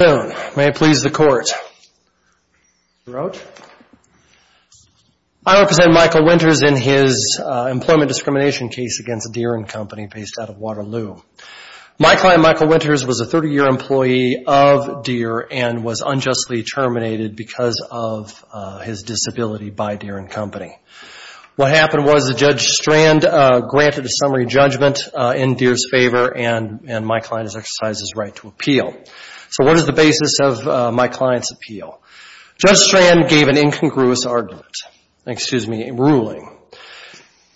I represent Michael Winters in his employment discrimination case against Deere & Company based out of Waterloo. My client Michael Winters was a 30-year employee of Deere and was unjustly terminated because of his disability by Deere & Company. What happened was that Judge Strand granted a summary judgment in Deere's favor and my client has exercised his right to appeal. What is the basis of my client's appeal? Judge Strand gave an incongruous ruling.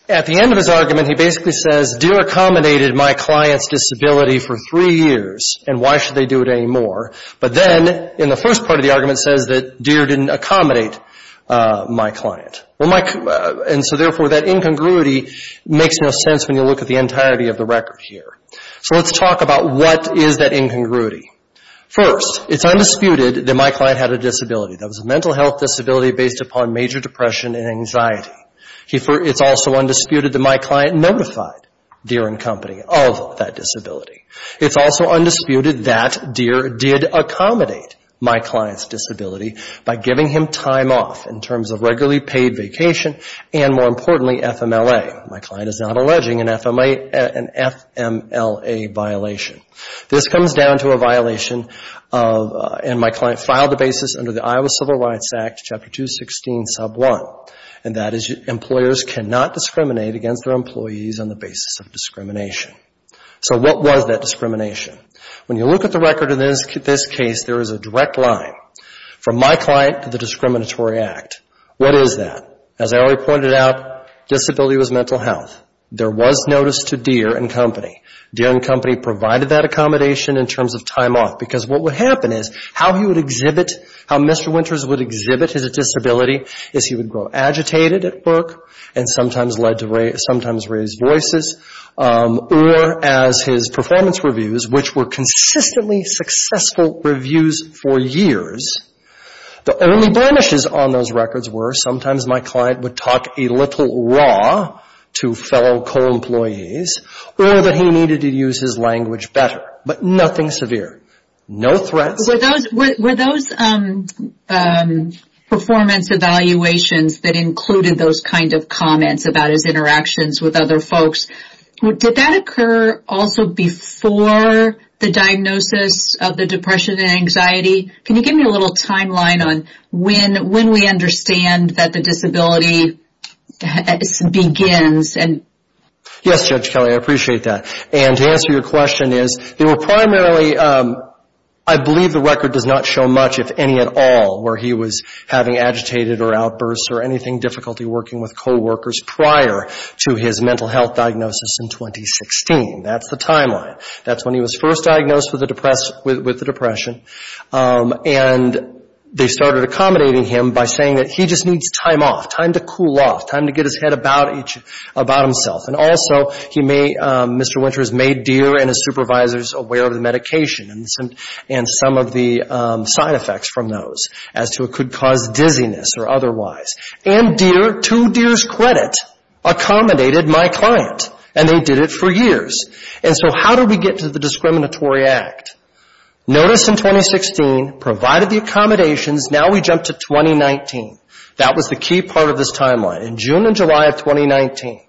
At the end of his argument, he basically says, Deere accommodated my client's disability for three years and why should they do it anymore? But then in the first part of the argument says that Deere didn't accommodate my client. Therefore, that incongruity makes no sense when you look at the entirety of First, it's undisputed that my client had a disability. That was a mental health disability based upon major depression and anxiety. It's also undisputed that my client notified Deere & Company of that disability. It's also undisputed that Deere did accommodate my client's disability by giving him time off in terms of regularly paid vacation and more importantly, FMLA. My client is not alleging an FMLA violation. This comes down to a violation and my client filed the basis under the Iowa Civil Rights Act, Chapter 216, Sub 1 and that is employers cannot discriminate against their employees on the basis of discrimination. So what was that discrimination? When you look at the record in this case, there is a direct line from my client to the discriminatory act. What is that? As I already pointed out, disability was mental health. There was notice to Deere & Company. Deere & Company provided that accommodation in terms of time off because what would happen is how he would exhibit, how Mr. Winters would exhibit his disability is he would grow agitated at work and sometimes raise voices or as his performance reviews, which were consistently successful reviews for years, the only blemishes on those records were sometimes my client would talk a little raw to fellow co-employees or that he needed to use his language better, but nothing severe. No threats. Were those performance evaluations that included those kinds of comments about his interactions with other folks, did that occur also before the diagnosis of the depression and anxiety? Can you give me a little background on where disability begins? Yes, Judge Kelly, I appreciate that. And to answer your question is, they were primarily, I believe the record does not show much, if any at all, where he was having agitated or outbursts or anything, difficulty working with co-workers prior to his mental health diagnosis in 2016. That's the timeline. That's when he was first diagnosed with the depression and they started accommodating him by saying that he just needs time off. Time to cool off. Time to get his head about himself. And also, Mr. Winters made Deere and his supervisors aware of the medication and some of the side effects from those as to what could cause dizziness or otherwise. And Deere, to Deere's credit, accommodated my client and they did it for years. And so how did we get to the discriminatory act? Notice in 2016, provided the accommodations, now we jump to 2019. That was the key part of this timeline. In June and July of 2019,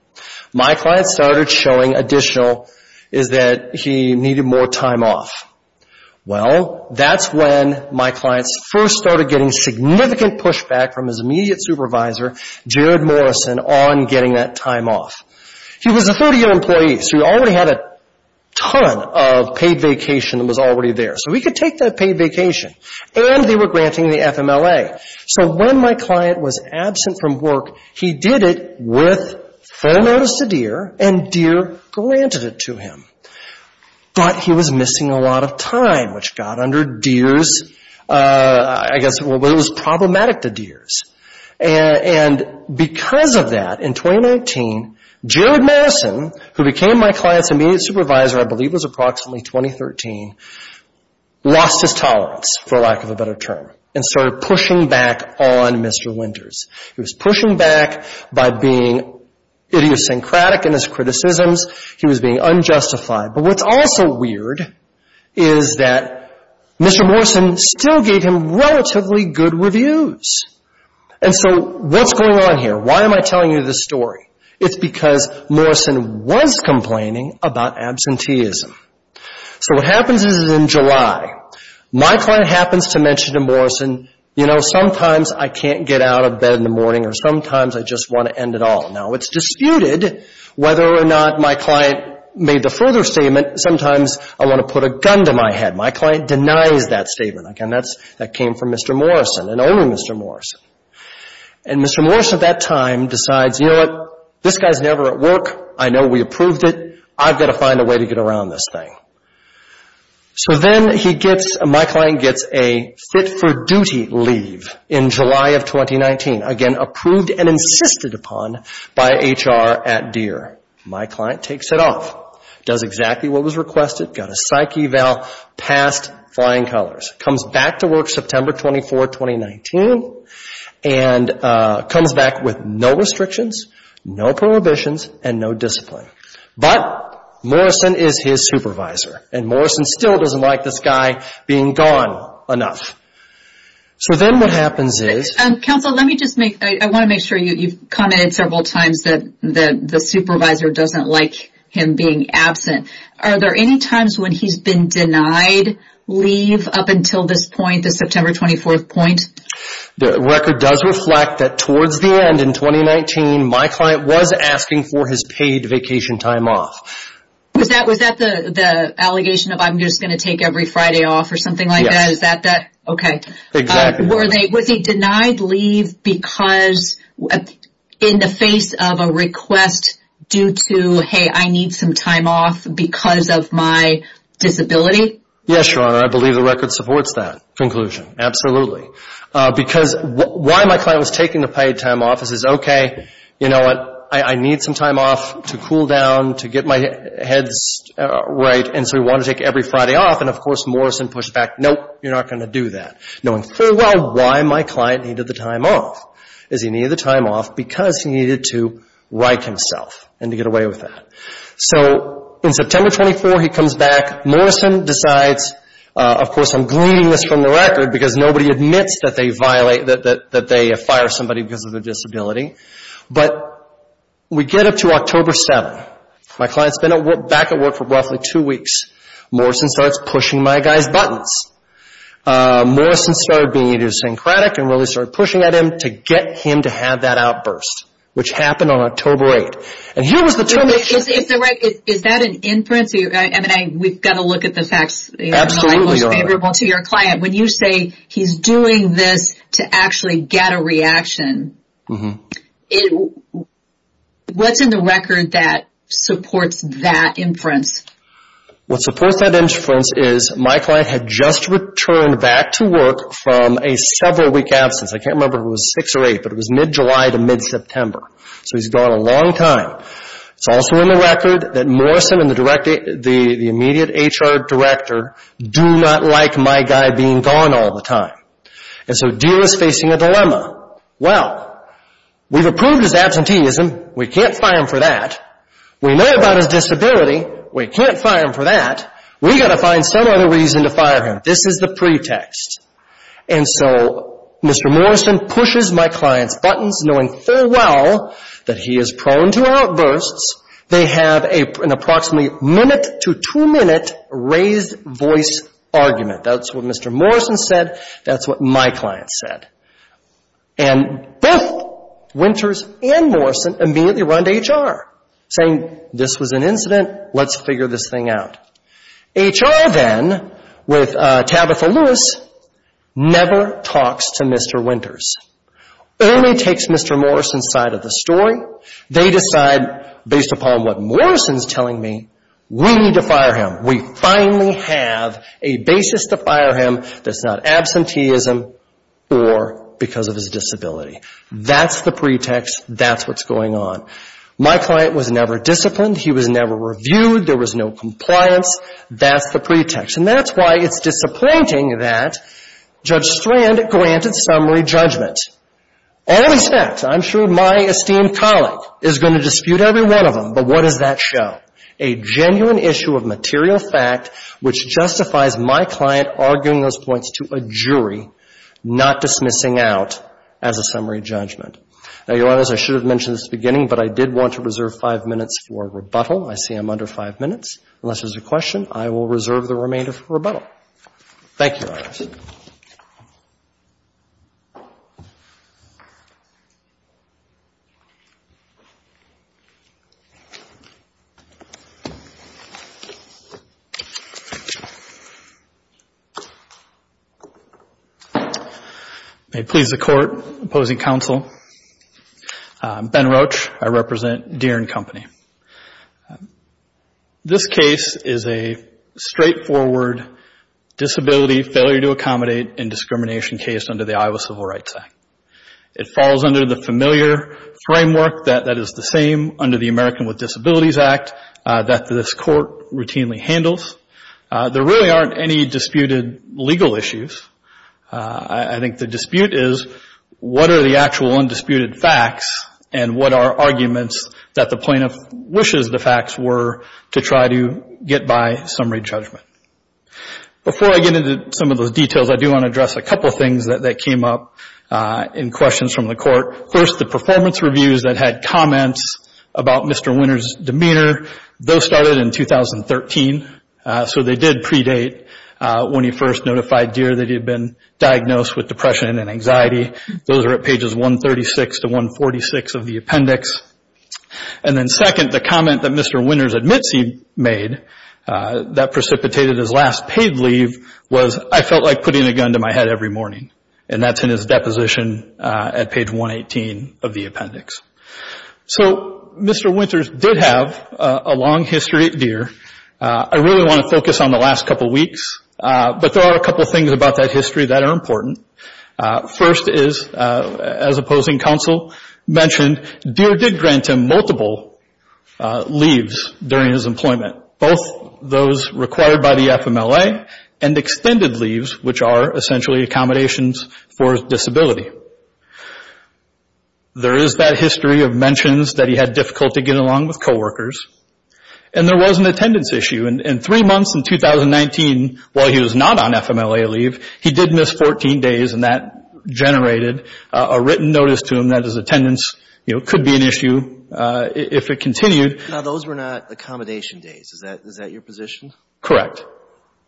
my client started showing additional that he needed more time off. Well, that's when my client first started getting significant pushback from his immediate supervisor, Jared Morrison, on getting that time off. He was a 30-year employee, so he already had a ton of paid vacation that was already there. So he could take that paid vacation. And they were granting the time. So when my client was absent from work, he did it with full notice to Deere and Deere granted it to him. But he was missing a lot of time, which got under Deere's, I guess, it was problematic to Deere's. And because of that, in 2019, Jared Morrison, who became my client's immediate supervisor, I believe it was approximately 2013, lost his tolerance, for lack of a better term, and started pushing back on Mr. Winters. He was pushing back by being idiosyncratic in his criticisms. He was being unjustified. But what's also weird is that Mr. Morrison still gave him relatively good reviews. And so what's going on here? Why am I telling you this story? It's because Morrison was complaining about absenteeism. So what happens is in July, my client happens to mention to Morrison, you know, sometimes I can't get out of bed in the morning, or sometimes I just want to end it all. Now, it's disputed whether or not my client made the further statement. Sometimes I want to put a gun to my head. My client denies that statement. Again, that came from Mr. Morrison, an older Mr. Morrison. And Mr. Morrison at that time decides, you know what, this guy's never at work. I know we approved it. I've got to find a way to get around this thing. So then he gets, my client gets a fit-for-duty leave in July of 2019. Again, approved and insisted upon by HR at Deere. My client takes it off, does exactly what was requested, got a psyche eval, passed flying colors. Comes back to work September 24, 2019, and comes back with no restrictions, no prohibitions, and no discipline. But Morrison is his supervisor, and Morrison still doesn't like this guy being gone enough. So then what happens is... Counsel, let me just make, I want to make sure you've commented several times that the supervisor doesn't like him being absent. Are there any times when he's been denied leave up until this point, the September 24th point? The record does reflect that towards the end in 2019, my client was asking for his paid vacation time off. Was that the allegation of, I'm just going to take every Friday off or something like that? Okay. Exactly. Was he denied leave because, in the face of a request due to, hey, I need some time off because of my disability? Yes, Your Honor. I believe the record supports that conclusion. Absolutely. Because why my client was taking the paid time off is, okay, you know what, I need some time off to cool down, to get my head right, and so he wanted to take every Friday off, and of course Morrison pushed back, nope, you're not going to do that. Knowing full well why my client needed the time off, is he needed the time off because he needed to right himself and to get away with that. So in September 24th, he comes back. Morrison decides, of course I'm gleaning this from the record because nobody admits that they violate, that they fire somebody because of their disability, but we get up to October 7th. My client's been back at work for roughly two weeks. Morrison starts pushing my guy's buttons. Morrison started being idiosyncratic and really started pushing at him to get him to have that outburst, which happened on October 8th. And here was the termination. Is that an inference? I mean, we've got to look at the facts. Absolutely, Your Honor. Most favorable to your client. When you say he's doing this to actually get a reaction, what's in the record that supports that inference? What supports that inference is my client had just returned back to work from a several week absence. I can't remember if it was six or eight, but it was mid-July to mid-September. So he's gone a long time. It's also in the record that Morrison and the immediate HR director do not like my guy being gone all the time. And so Deer is facing a dilemma. Well, we've approved his absenteeism. We can't fire him for that. We know about his disability. We can't fire him for that. We've got to find some other reason to fire him. This is the pretext. And so Mr. Morrison pushes my client's buttons, knowing full well that he is prone to outbursts. They have an approximately minute to two-minute raised voice argument. That's what Mr. Morrison said. That's what my client said. And both Winters and Morrison immediately run to HR, saying this was an incident. Let's figure this thing out. HR then, with Tabitha Lewis, never talks to Mr. Winters. Only takes Mr. Morrison's side of the story. They decide, based upon what Morrison's telling me, we need to fire him. We finally have a basis to fire him that's not absenteeism or because of his disability. That's the pretext. That's what's going on. My client was never disciplined. He was never reviewed. There was no compliance. That's the pretext. And that's why it's disappointing that Judge Strand granted summary judgment. All these facts, I'm sure my esteemed colleague is going to dispute every one of them, but what does that show? A genuine issue of material fact which justifies my client arguing those points to a jury, not dismissing out as a summary judgment. Now, Your Honors, I should have mentioned this at the beginning, but I did want to reserve five minutes for rebuttal. I see I'm under five minutes. Unless there's a question, I will reserve the remainder for rebuttal. Thank you, Your Honors. Please be seated. May it please the Court, opposing counsel, Ben Roach, I represent Deere and Company. This case is a straightforward disability failure to accommodate and discrimination case under the Iowa Civil Rights Act. It falls under the familiar framework that is the same under the American with Disabilities Act that this court routinely handles. There really aren't any disputed legal issues. I think the dispute is what are the actual wishes the facts were to try to get by summary judgment. Before I get into some of those details, I do want to address a couple of things that came up in questions from the court. First, the performance reviews that had comments about Mr. Winter's demeanor. Those started in 2013, so they did predate when he first notified Deere that he had been diagnosed with depression and anxiety. Those are at pages 136 to 146 of the appendix. Second, the comment that Mr. Winter admits he made that precipitated his last paid leave was, I felt like putting a gun to my head every morning. That's in his deposition at page 118 of the appendix. Mr. Winter did have a long history at Deere. I really want to focus on the last couple of weeks, but there are a couple of things about that history that are important. First is, as opposing counsel mentioned, Mr. Winter's employment. Deere did grant him multiple leaves during his employment, both those required by the FMLA and extended leaves, which are essentially accommodations for disability. There is that history of mentions that he had difficulty getting along with coworkers. There was an attendance issue. In three months in 2019, while he was not on FMLA leave, he did miss 14 days and that generated a written notice to him that his attendance could be an issue if it continued. Those were not accommodation days. Is that your position? Correct.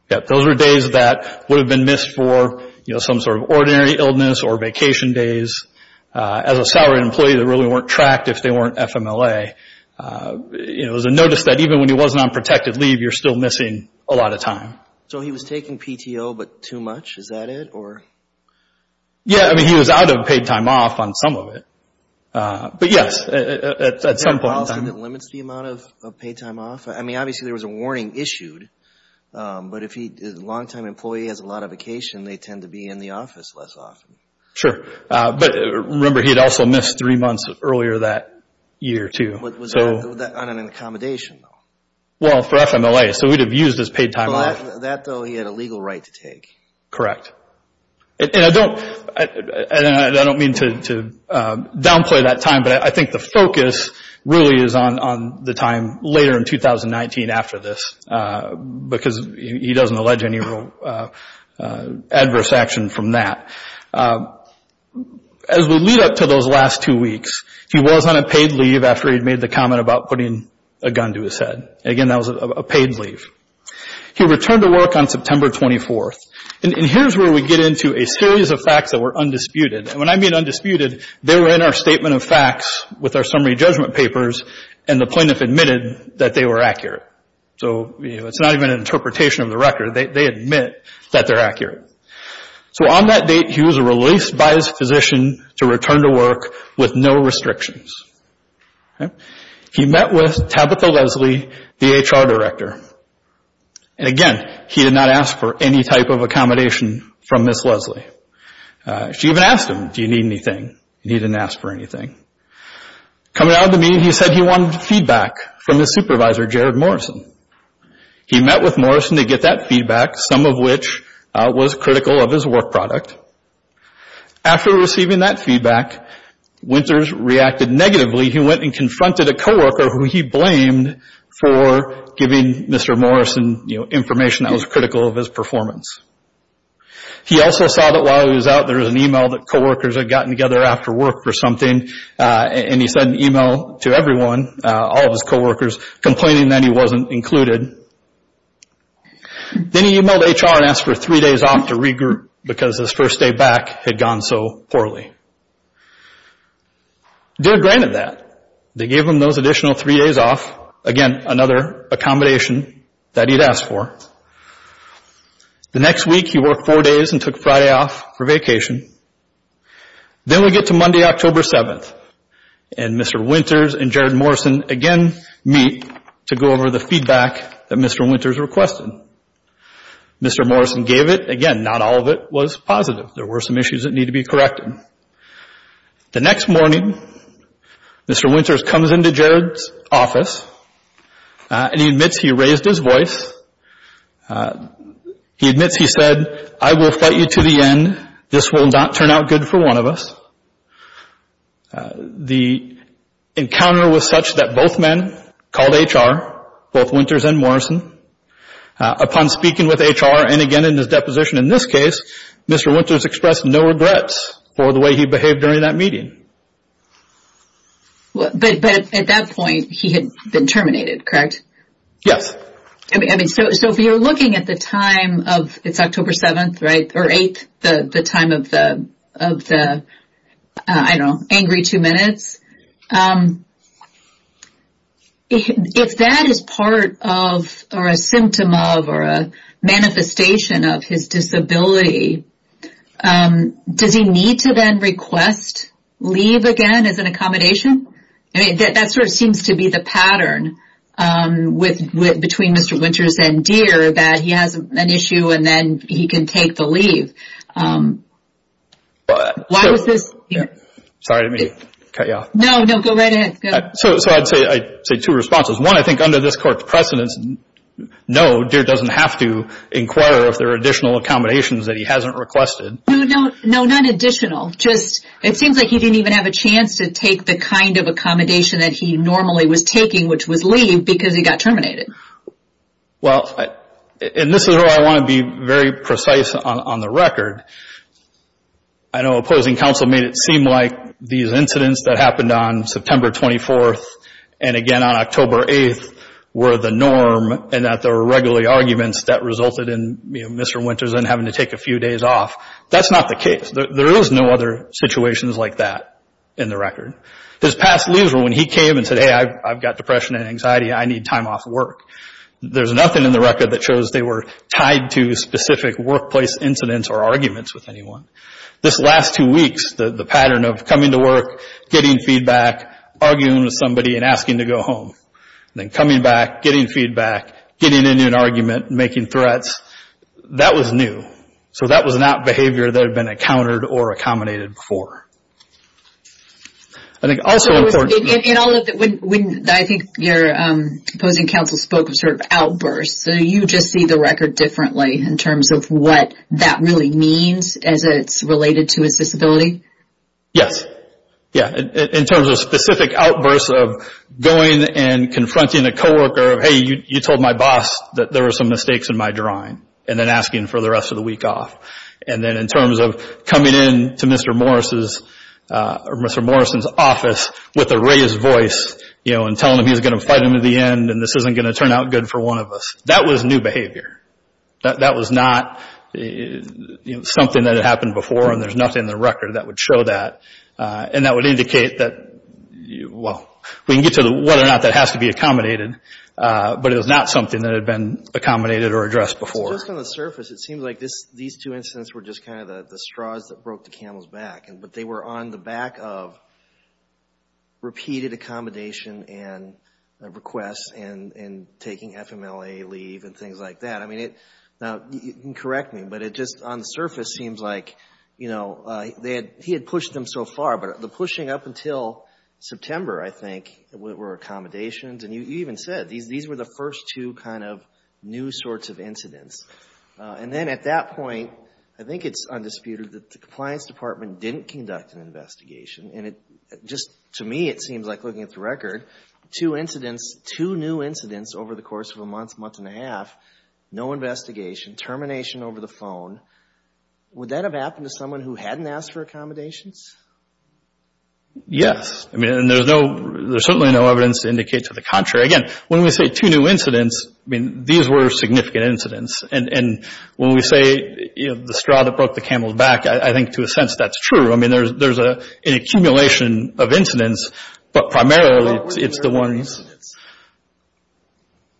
Those were days that would have been missed for some sort of ordinary illness or vacation days. As a salaried employee, they really weren't tracked if they weren't FMLA. It was a notice that even when he wasn't on protected leave, you're still missing a lot of time. So he was taking PTO, but too much? Is that it? He was out of paid time off on some of it. Is there a policy that limits the amount of paid time off? Obviously there was a warning issued, but if a long-time employee has a lot of vacation, they tend to be in the office less often. Sure. Remember, he had also missed three months earlier that year, too. Was that on an accommodation? Well, for FMLA. So he would have used his paid time off. That, though, he had a legal right to take. Correct. I don't mean to downplay that time, but I think the focus really is on the time later in 2019 after this. Because he doesn't allege any real adverse action from that. As we lead up to those last two weeks, he was on a paid leave after he'd made the comment about putting a gun to his head. Again, that was a paid leave. He returned to work on September 24th. And here's where we get into a series of facts that were undisputed. And when I mean undisputed, they were in our statement of facts with our summary judgment papers, and the plaintiff admitted that they were accurate. So it's not even an interpretation of the record. They admit that they're accurate. So on that date, he was released by his physician to return to work with no restrictions. He met with Tabitha Leslie, the HR director. And again, he did not ask for any type of accommodation from Ms. Leslie. She even asked him, do you need anything? He didn't ask for anything. Coming out of the meeting, he said he wanted feedback from his supervisor, Jared Morrison. He met with Morrison to get that feedback, some of which was critical of his work product. After receiving that feedback, Winters reacted negatively. He went and confronted a coworker who he blamed for giving Mr. Morrison information that was critical of his performance. He also saw that while he was out, there was an email that coworkers had gotten together after work for something. And he sent an email to everyone, all of his coworkers, complaining that he wasn't included. Then he emailed HR and asked for three days off to regroup, because his first day back had gone so poorly. They granted that. They gave him those additional three days off. Again, another accommodation that he'd asked for. The next week, he worked four days and took Friday off for vacation. Then we get to Monday, October 7th. Mr. Winters and Jared Morrison again meet to go over the feedback that Mr. Winters requested. Mr. Morrison gave it. Again, not all of it was positive. There were some issues that needed to be corrected. The next morning, Mr. Winters comes into Jared's office, and he admits he raised his voice. He admits he said, I will fight you to the end. This will not turn out good for one of us. The encounter was such that both men called HR, both Winters and Morrison. Upon speaking with HR, and again in his deposition in this case, Mr. Winters expressed no regrets for the way he behaved during that meeting. But at that point, he had been terminated, correct? Yes. So if you're looking at the time, it's October 7th, or 8th, the time of the angry two minutes, if that is part of or a symptom of or a manifestation of his disability, does he need to then request leave again as an accommodation? That sort of seems to be the pattern between Mr. Winters and Deere, that he has an issue and then he can take the leave. Why was this... No, go right ahead. So I'd say two responses. One, I think under this court's precedence, no, Deere doesn't have to inquire if there are additional accommodations that he hasn't requested. No, none additional. It seems like he didn't even have a chance to take the kind of accommodation that he normally was taking, which was leave, because he got terminated. Well, and this is where I want to be very precise on the record. I know opposing counsel made it seem like these incidents that happened on September 24th and again on October 8th were the norm and that there were regularly arguments that resulted in Mr. Winters then having to take a few days off. That's not the case. There is no other situations like that in the record. His past leaves were when he came and said, hey, I've got depression and anxiety, I need time off work. There's nothing in the record that shows they were tied to specific workplace incidents or arguments with anyone. This last two weeks, the pattern of coming to work, getting feedback, arguing with somebody and asking to go home, then coming back, getting feedback, getting into an argument, making threats, that was new. So that was not behavior that had been encountered or accommodated before. I think also important... I think your opposing counsel spoke of outbursts, so you just see the record differently in terms of what that really means as it's related to his disability? Yes. In terms of specific outbursts of going and confronting a co-worker, hey, you told my boss that there were some mistakes in my drawing, and then asking for the rest of the week off. And then in terms of coming in to Mr. Morrison's office with a raised voice and telling him he was going to fight him to the end and this isn't going to turn out good for one of us. That was new behavior. That was not something that had happened before and there's nothing in the record that would show that. And that would indicate that, well, we can get to whether or not that has to be accommodated, but it was not something that had been accommodated or addressed before. Just on the surface, it seems like these two incidents were just kind of the straws that broke the camel's back. But they were on the back of repeated accommodation and requests and taking FMLA leave and things like that. Now, you can correct me, but it just on the surface seems like he had pushed them so far, but the pushing up until September, I think, were accommodations. And you even said these were the first two kind of new sorts of incidents. And then at that point, I think it's undisputed that the Compliance Department didn't conduct an investigation. And it just, to me, it seems like looking at the record, two incidents, two new incidents over the course of a month, month and a half, no investigation, termination over the phone. Would that have happened to someone who hadn't asked for accommodations? Yes. I mean, there's certainly no evidence to indicate to the contrary. Again, when we say two new incidents, I mean, these were significant incidents. And when we say the straw that broke the camel's back, I think, to a sense, that's true. I mean, there's an accumulation of incidents, but primarily it's the ones...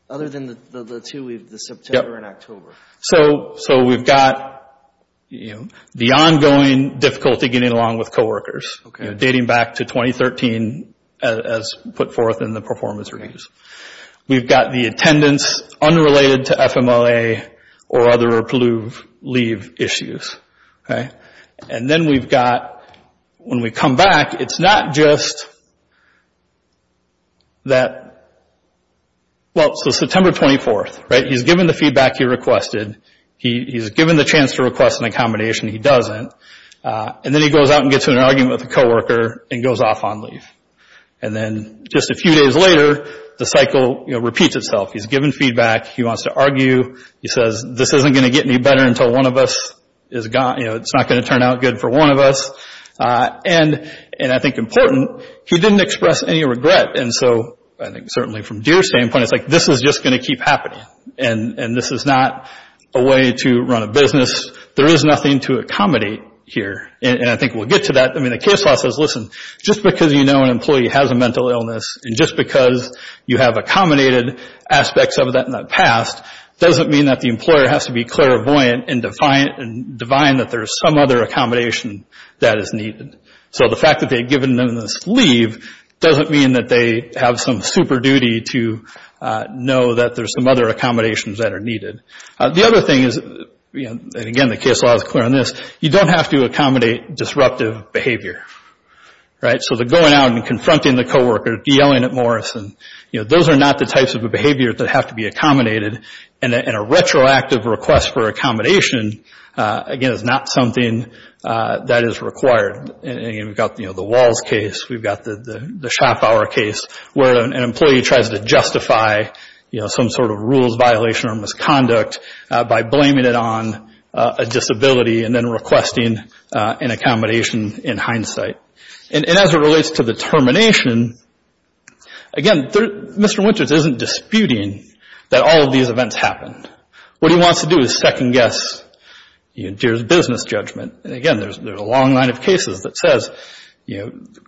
the ongoing difficulty getting along with coworkers, dating back to 2013, as put forth in the performance reviews. We've got the attendance unrelated to FMLA or other approved leave issues. And then we've got, when we come back, it's not just that... he has to request an accommodation. He doesn't. And then he goes out and gets in an argument with a coworker and goes off on leave. And then just a few days later, the cycle repeats itself. He's given feedback. He wants to argue. He says, this isn't going to get any better until one of us is gone. There is nothing to accommodate here, and I think we'll get to that. I mean, the case law says, listen, just because you know an employee has a mental illness and just because you have accommodated aspects of that in the past doesn't mean that the employer has to be clairvoyant and divine that there's some other accommodation that is needed. So the fact that they've given them this leave doesn't mean that they have some super duty The other thing is, and again the case law is clear on this, you don't have to accommodate disruptive behavior. So the going out and confronting the coworker, yelling at Morris, those are not the types of behavior that have to be accommodated, and a retroactive request for accommodation, again, is not something that is required. And again, we've got the Walls case, we've got the Schapauer case, where an employee tries to justify some sort of rules violation or misconduct by blaming it on a disability and then requesting an accommodation in hindsight. And as it relates to the termination, again, Mr. Winters isn't disputing that all of these events happened. What he wants to do is second guess business judgment. And again, there's a long line of cases that says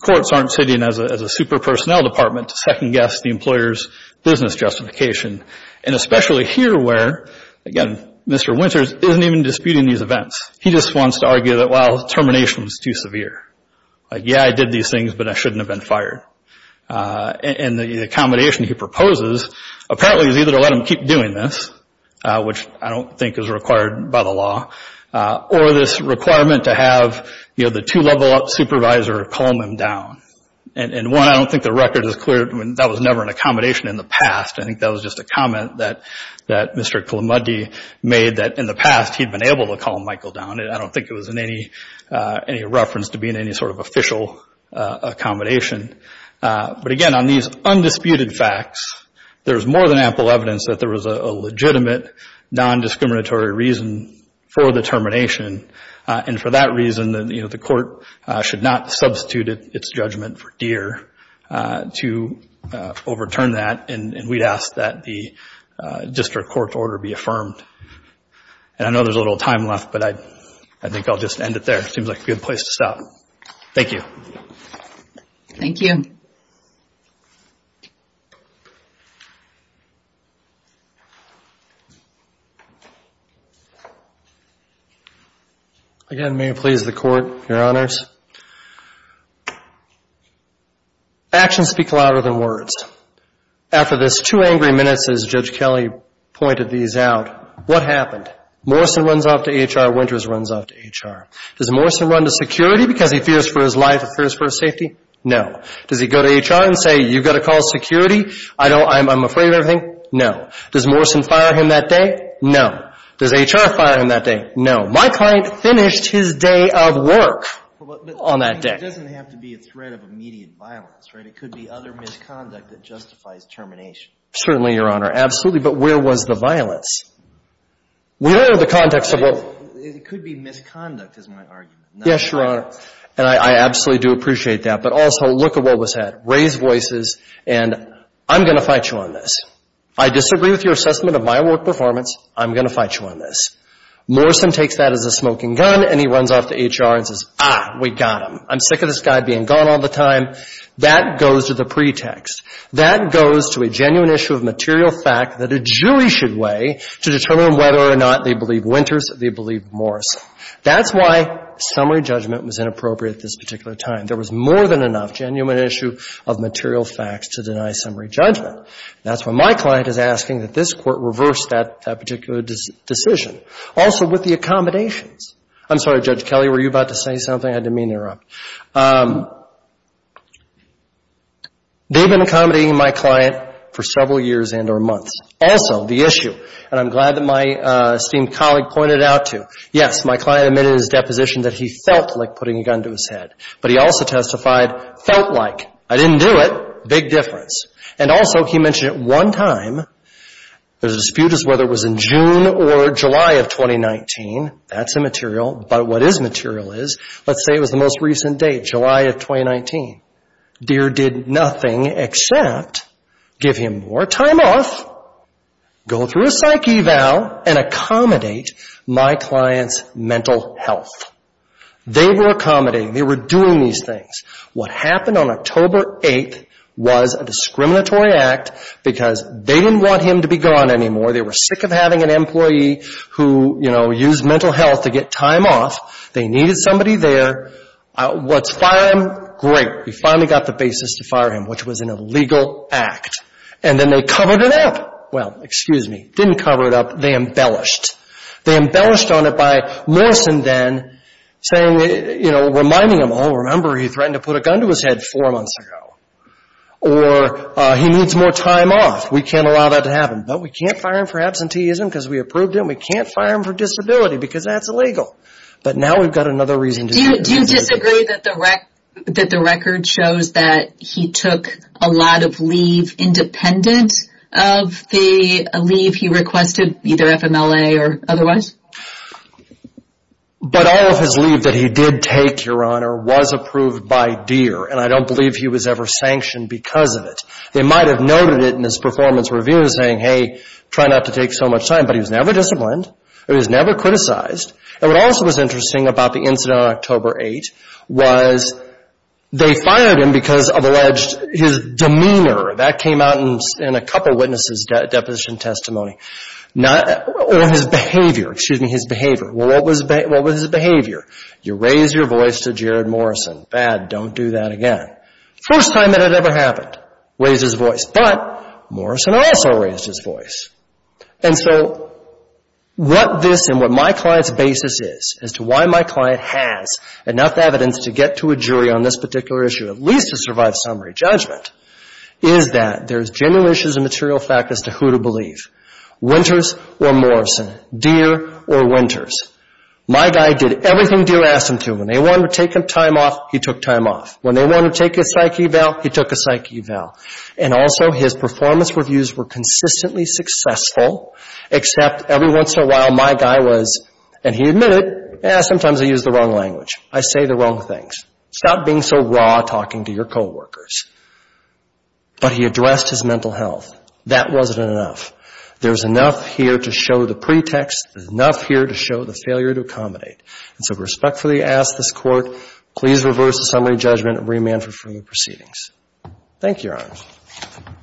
courts aren't sitting as a super personnel department to second guess the employer's business justification. And especially here where, again, Mr. Winters isn't even disputing these events. He just wants to argue that, well, termination was too severe. Like, yeah, I did these things, but I shouldn't have been fired. And the accommodation he proposes apparently is either to let him keep doing this, which I don't think is required by the law, or this requirement to have, you know, the two-level-up supervisor calm him down. And one, I don't think the record is clear. I mean, that was never an accommodation in the past. I think that was just a comment that Mr. Kalamudi made that in the past he'd been able to calm Michael down. And I don't think it was in any reference to being any sort of official accommodation. But again, on these undisputed facts, there's more than ample evidence that there was a legitimate nondiscriminatory reason for the termination. And for that reason, you know, the court should not substitute its judgment for Deere to overturn that. And we'd ask that the district court order be affirmed. And I know there's a little time left, but I think I'll just end it there. It seems like a good place to stop. Thank you. Again, may it please the Court, Your Honors. Actions speak louder than words. After this two angry minutes, as Judge Kelly pointed these out, what happened? Morrison runs off to HR, Winters runs off to HR. Does Morrison run to security because he fears for his life or fears for his safety? No. Does he go to HR and say, you've got to call security, I'm afraid of everything? No. Does Morrison fire him that day? No. Does HR fire him that day? No. My client finished his day of work on that day. It doesn't have to be a threat of immediate violence, right? It could be other misconduct that justifies termination. Certainly, Your Honor. Absolutely. But where was the violence? We don't know the context of what — It could be misconduct is my argument. Yes, Your Honor. And I absolutely do appreciate that. But also, look at what was said. Raise voices and I'm going to fight you on this. I disagree with your assessment of my work performance. I'm going to fight you on this. Morrison takes that as a smoking gun and he runs off to HR and says, ah, we got him. I'm sick of this guy being gone all the time. That goes to the pretext. That goes to a genuine issue of material fact that a jury should weigh to determine whether or not they believe Winters, they believe Morrison. That's why summary judgment was inappropriate at this particular time. There was more than enough genuine issue of material facts to deny summary judgment. That's why my client is asking that this Court reverse that particular decision. Also, with the accommodations. I'm sorry, Judge Kelly, were you about to say something? I didn't mean to interrupt. They've been accommodating my client for several years and or months. Also, the issue, and I'm glad that my esteemed colleague pointed it out too. Yes, my client admitted in his deposition that he felt like putting a gun to his head. But he also testified, felt like. I didn't do it. Big difference. And also, he mentioned it one time. There's a dispute as to whether it was in June or July of 2019. That's immaterial. But what is material is, let's say it was the most recent date, July of 2019. Deere did nothing except give him more time off, go through a psyche eval and accommodate my client's mental health. They were accommodating. They were doing these things. What happened on October 8th was a discriminatory act because they didn't want him to be gone anymore. They were sick of having an employee who used mental health to get time off. They needed somebody there. Let's fire him. Great. We finally got the basis to fire him, which was an illegal act. And then they covered it up. Well, excuse me, didn't cover it up. They embellished. They embellished on it by Morrison then, reminding him, oh, remember, he threatened to put a gun to his head four months ago. Or he needs more time off. We can't allow that to happen. But we can't fire him for absenteeism because we approved him. We can't fire him for disability because that's illegal. Do you disagree that the record shows that he took a lot of leave independent of the leave he requested, either FMLA or otherwise? But all of his leave that he did take, Your Honor, was approved by Deere. And I don't believe he was ever sanctioned because of it. They might have noted it in his performance review saying, hey, try not to take so much time. But he was never disciplined. He was never criticized. And what also was interesting about the incident on October 8th was they fired him because of alleged his demeanor. That came out in a couple witnesses' deposition testimony. Or his behavior. Excuse me, his behavior. Well, what was his behavior? You raise your voice to Jared Morrison. Bad. Don't do that again. First time it had ever happened. Raise his voice. But Morrison also raised his voice. And so what this and what my client's basis is as to why my client has enough evidence to get to a jury on this particular issue, at least to survive summary judgment, is that there's genuine issues of material fact as to who to believe. Winters or Morrison. Deere or Winters. My guy did everything Deere asked him to. When they wanted to take time off, he took time off. When they wanted to take a psyche eval, he took a psyche eval. And also his performance reviews were consistently successful except every once in a while my guy was, and he admitted, sometimes I use the wrong language. I say the wrong things. Stop being so raw talking to your coworkers. But he addressed his mental health. That wasn't enough. There's enough here to show the pretext. There's enough here to show the failure to accommodate. And so I respectfully ask this Court, please reverse the summary judgment and remand for further proceedings. Thank you, Your Honor.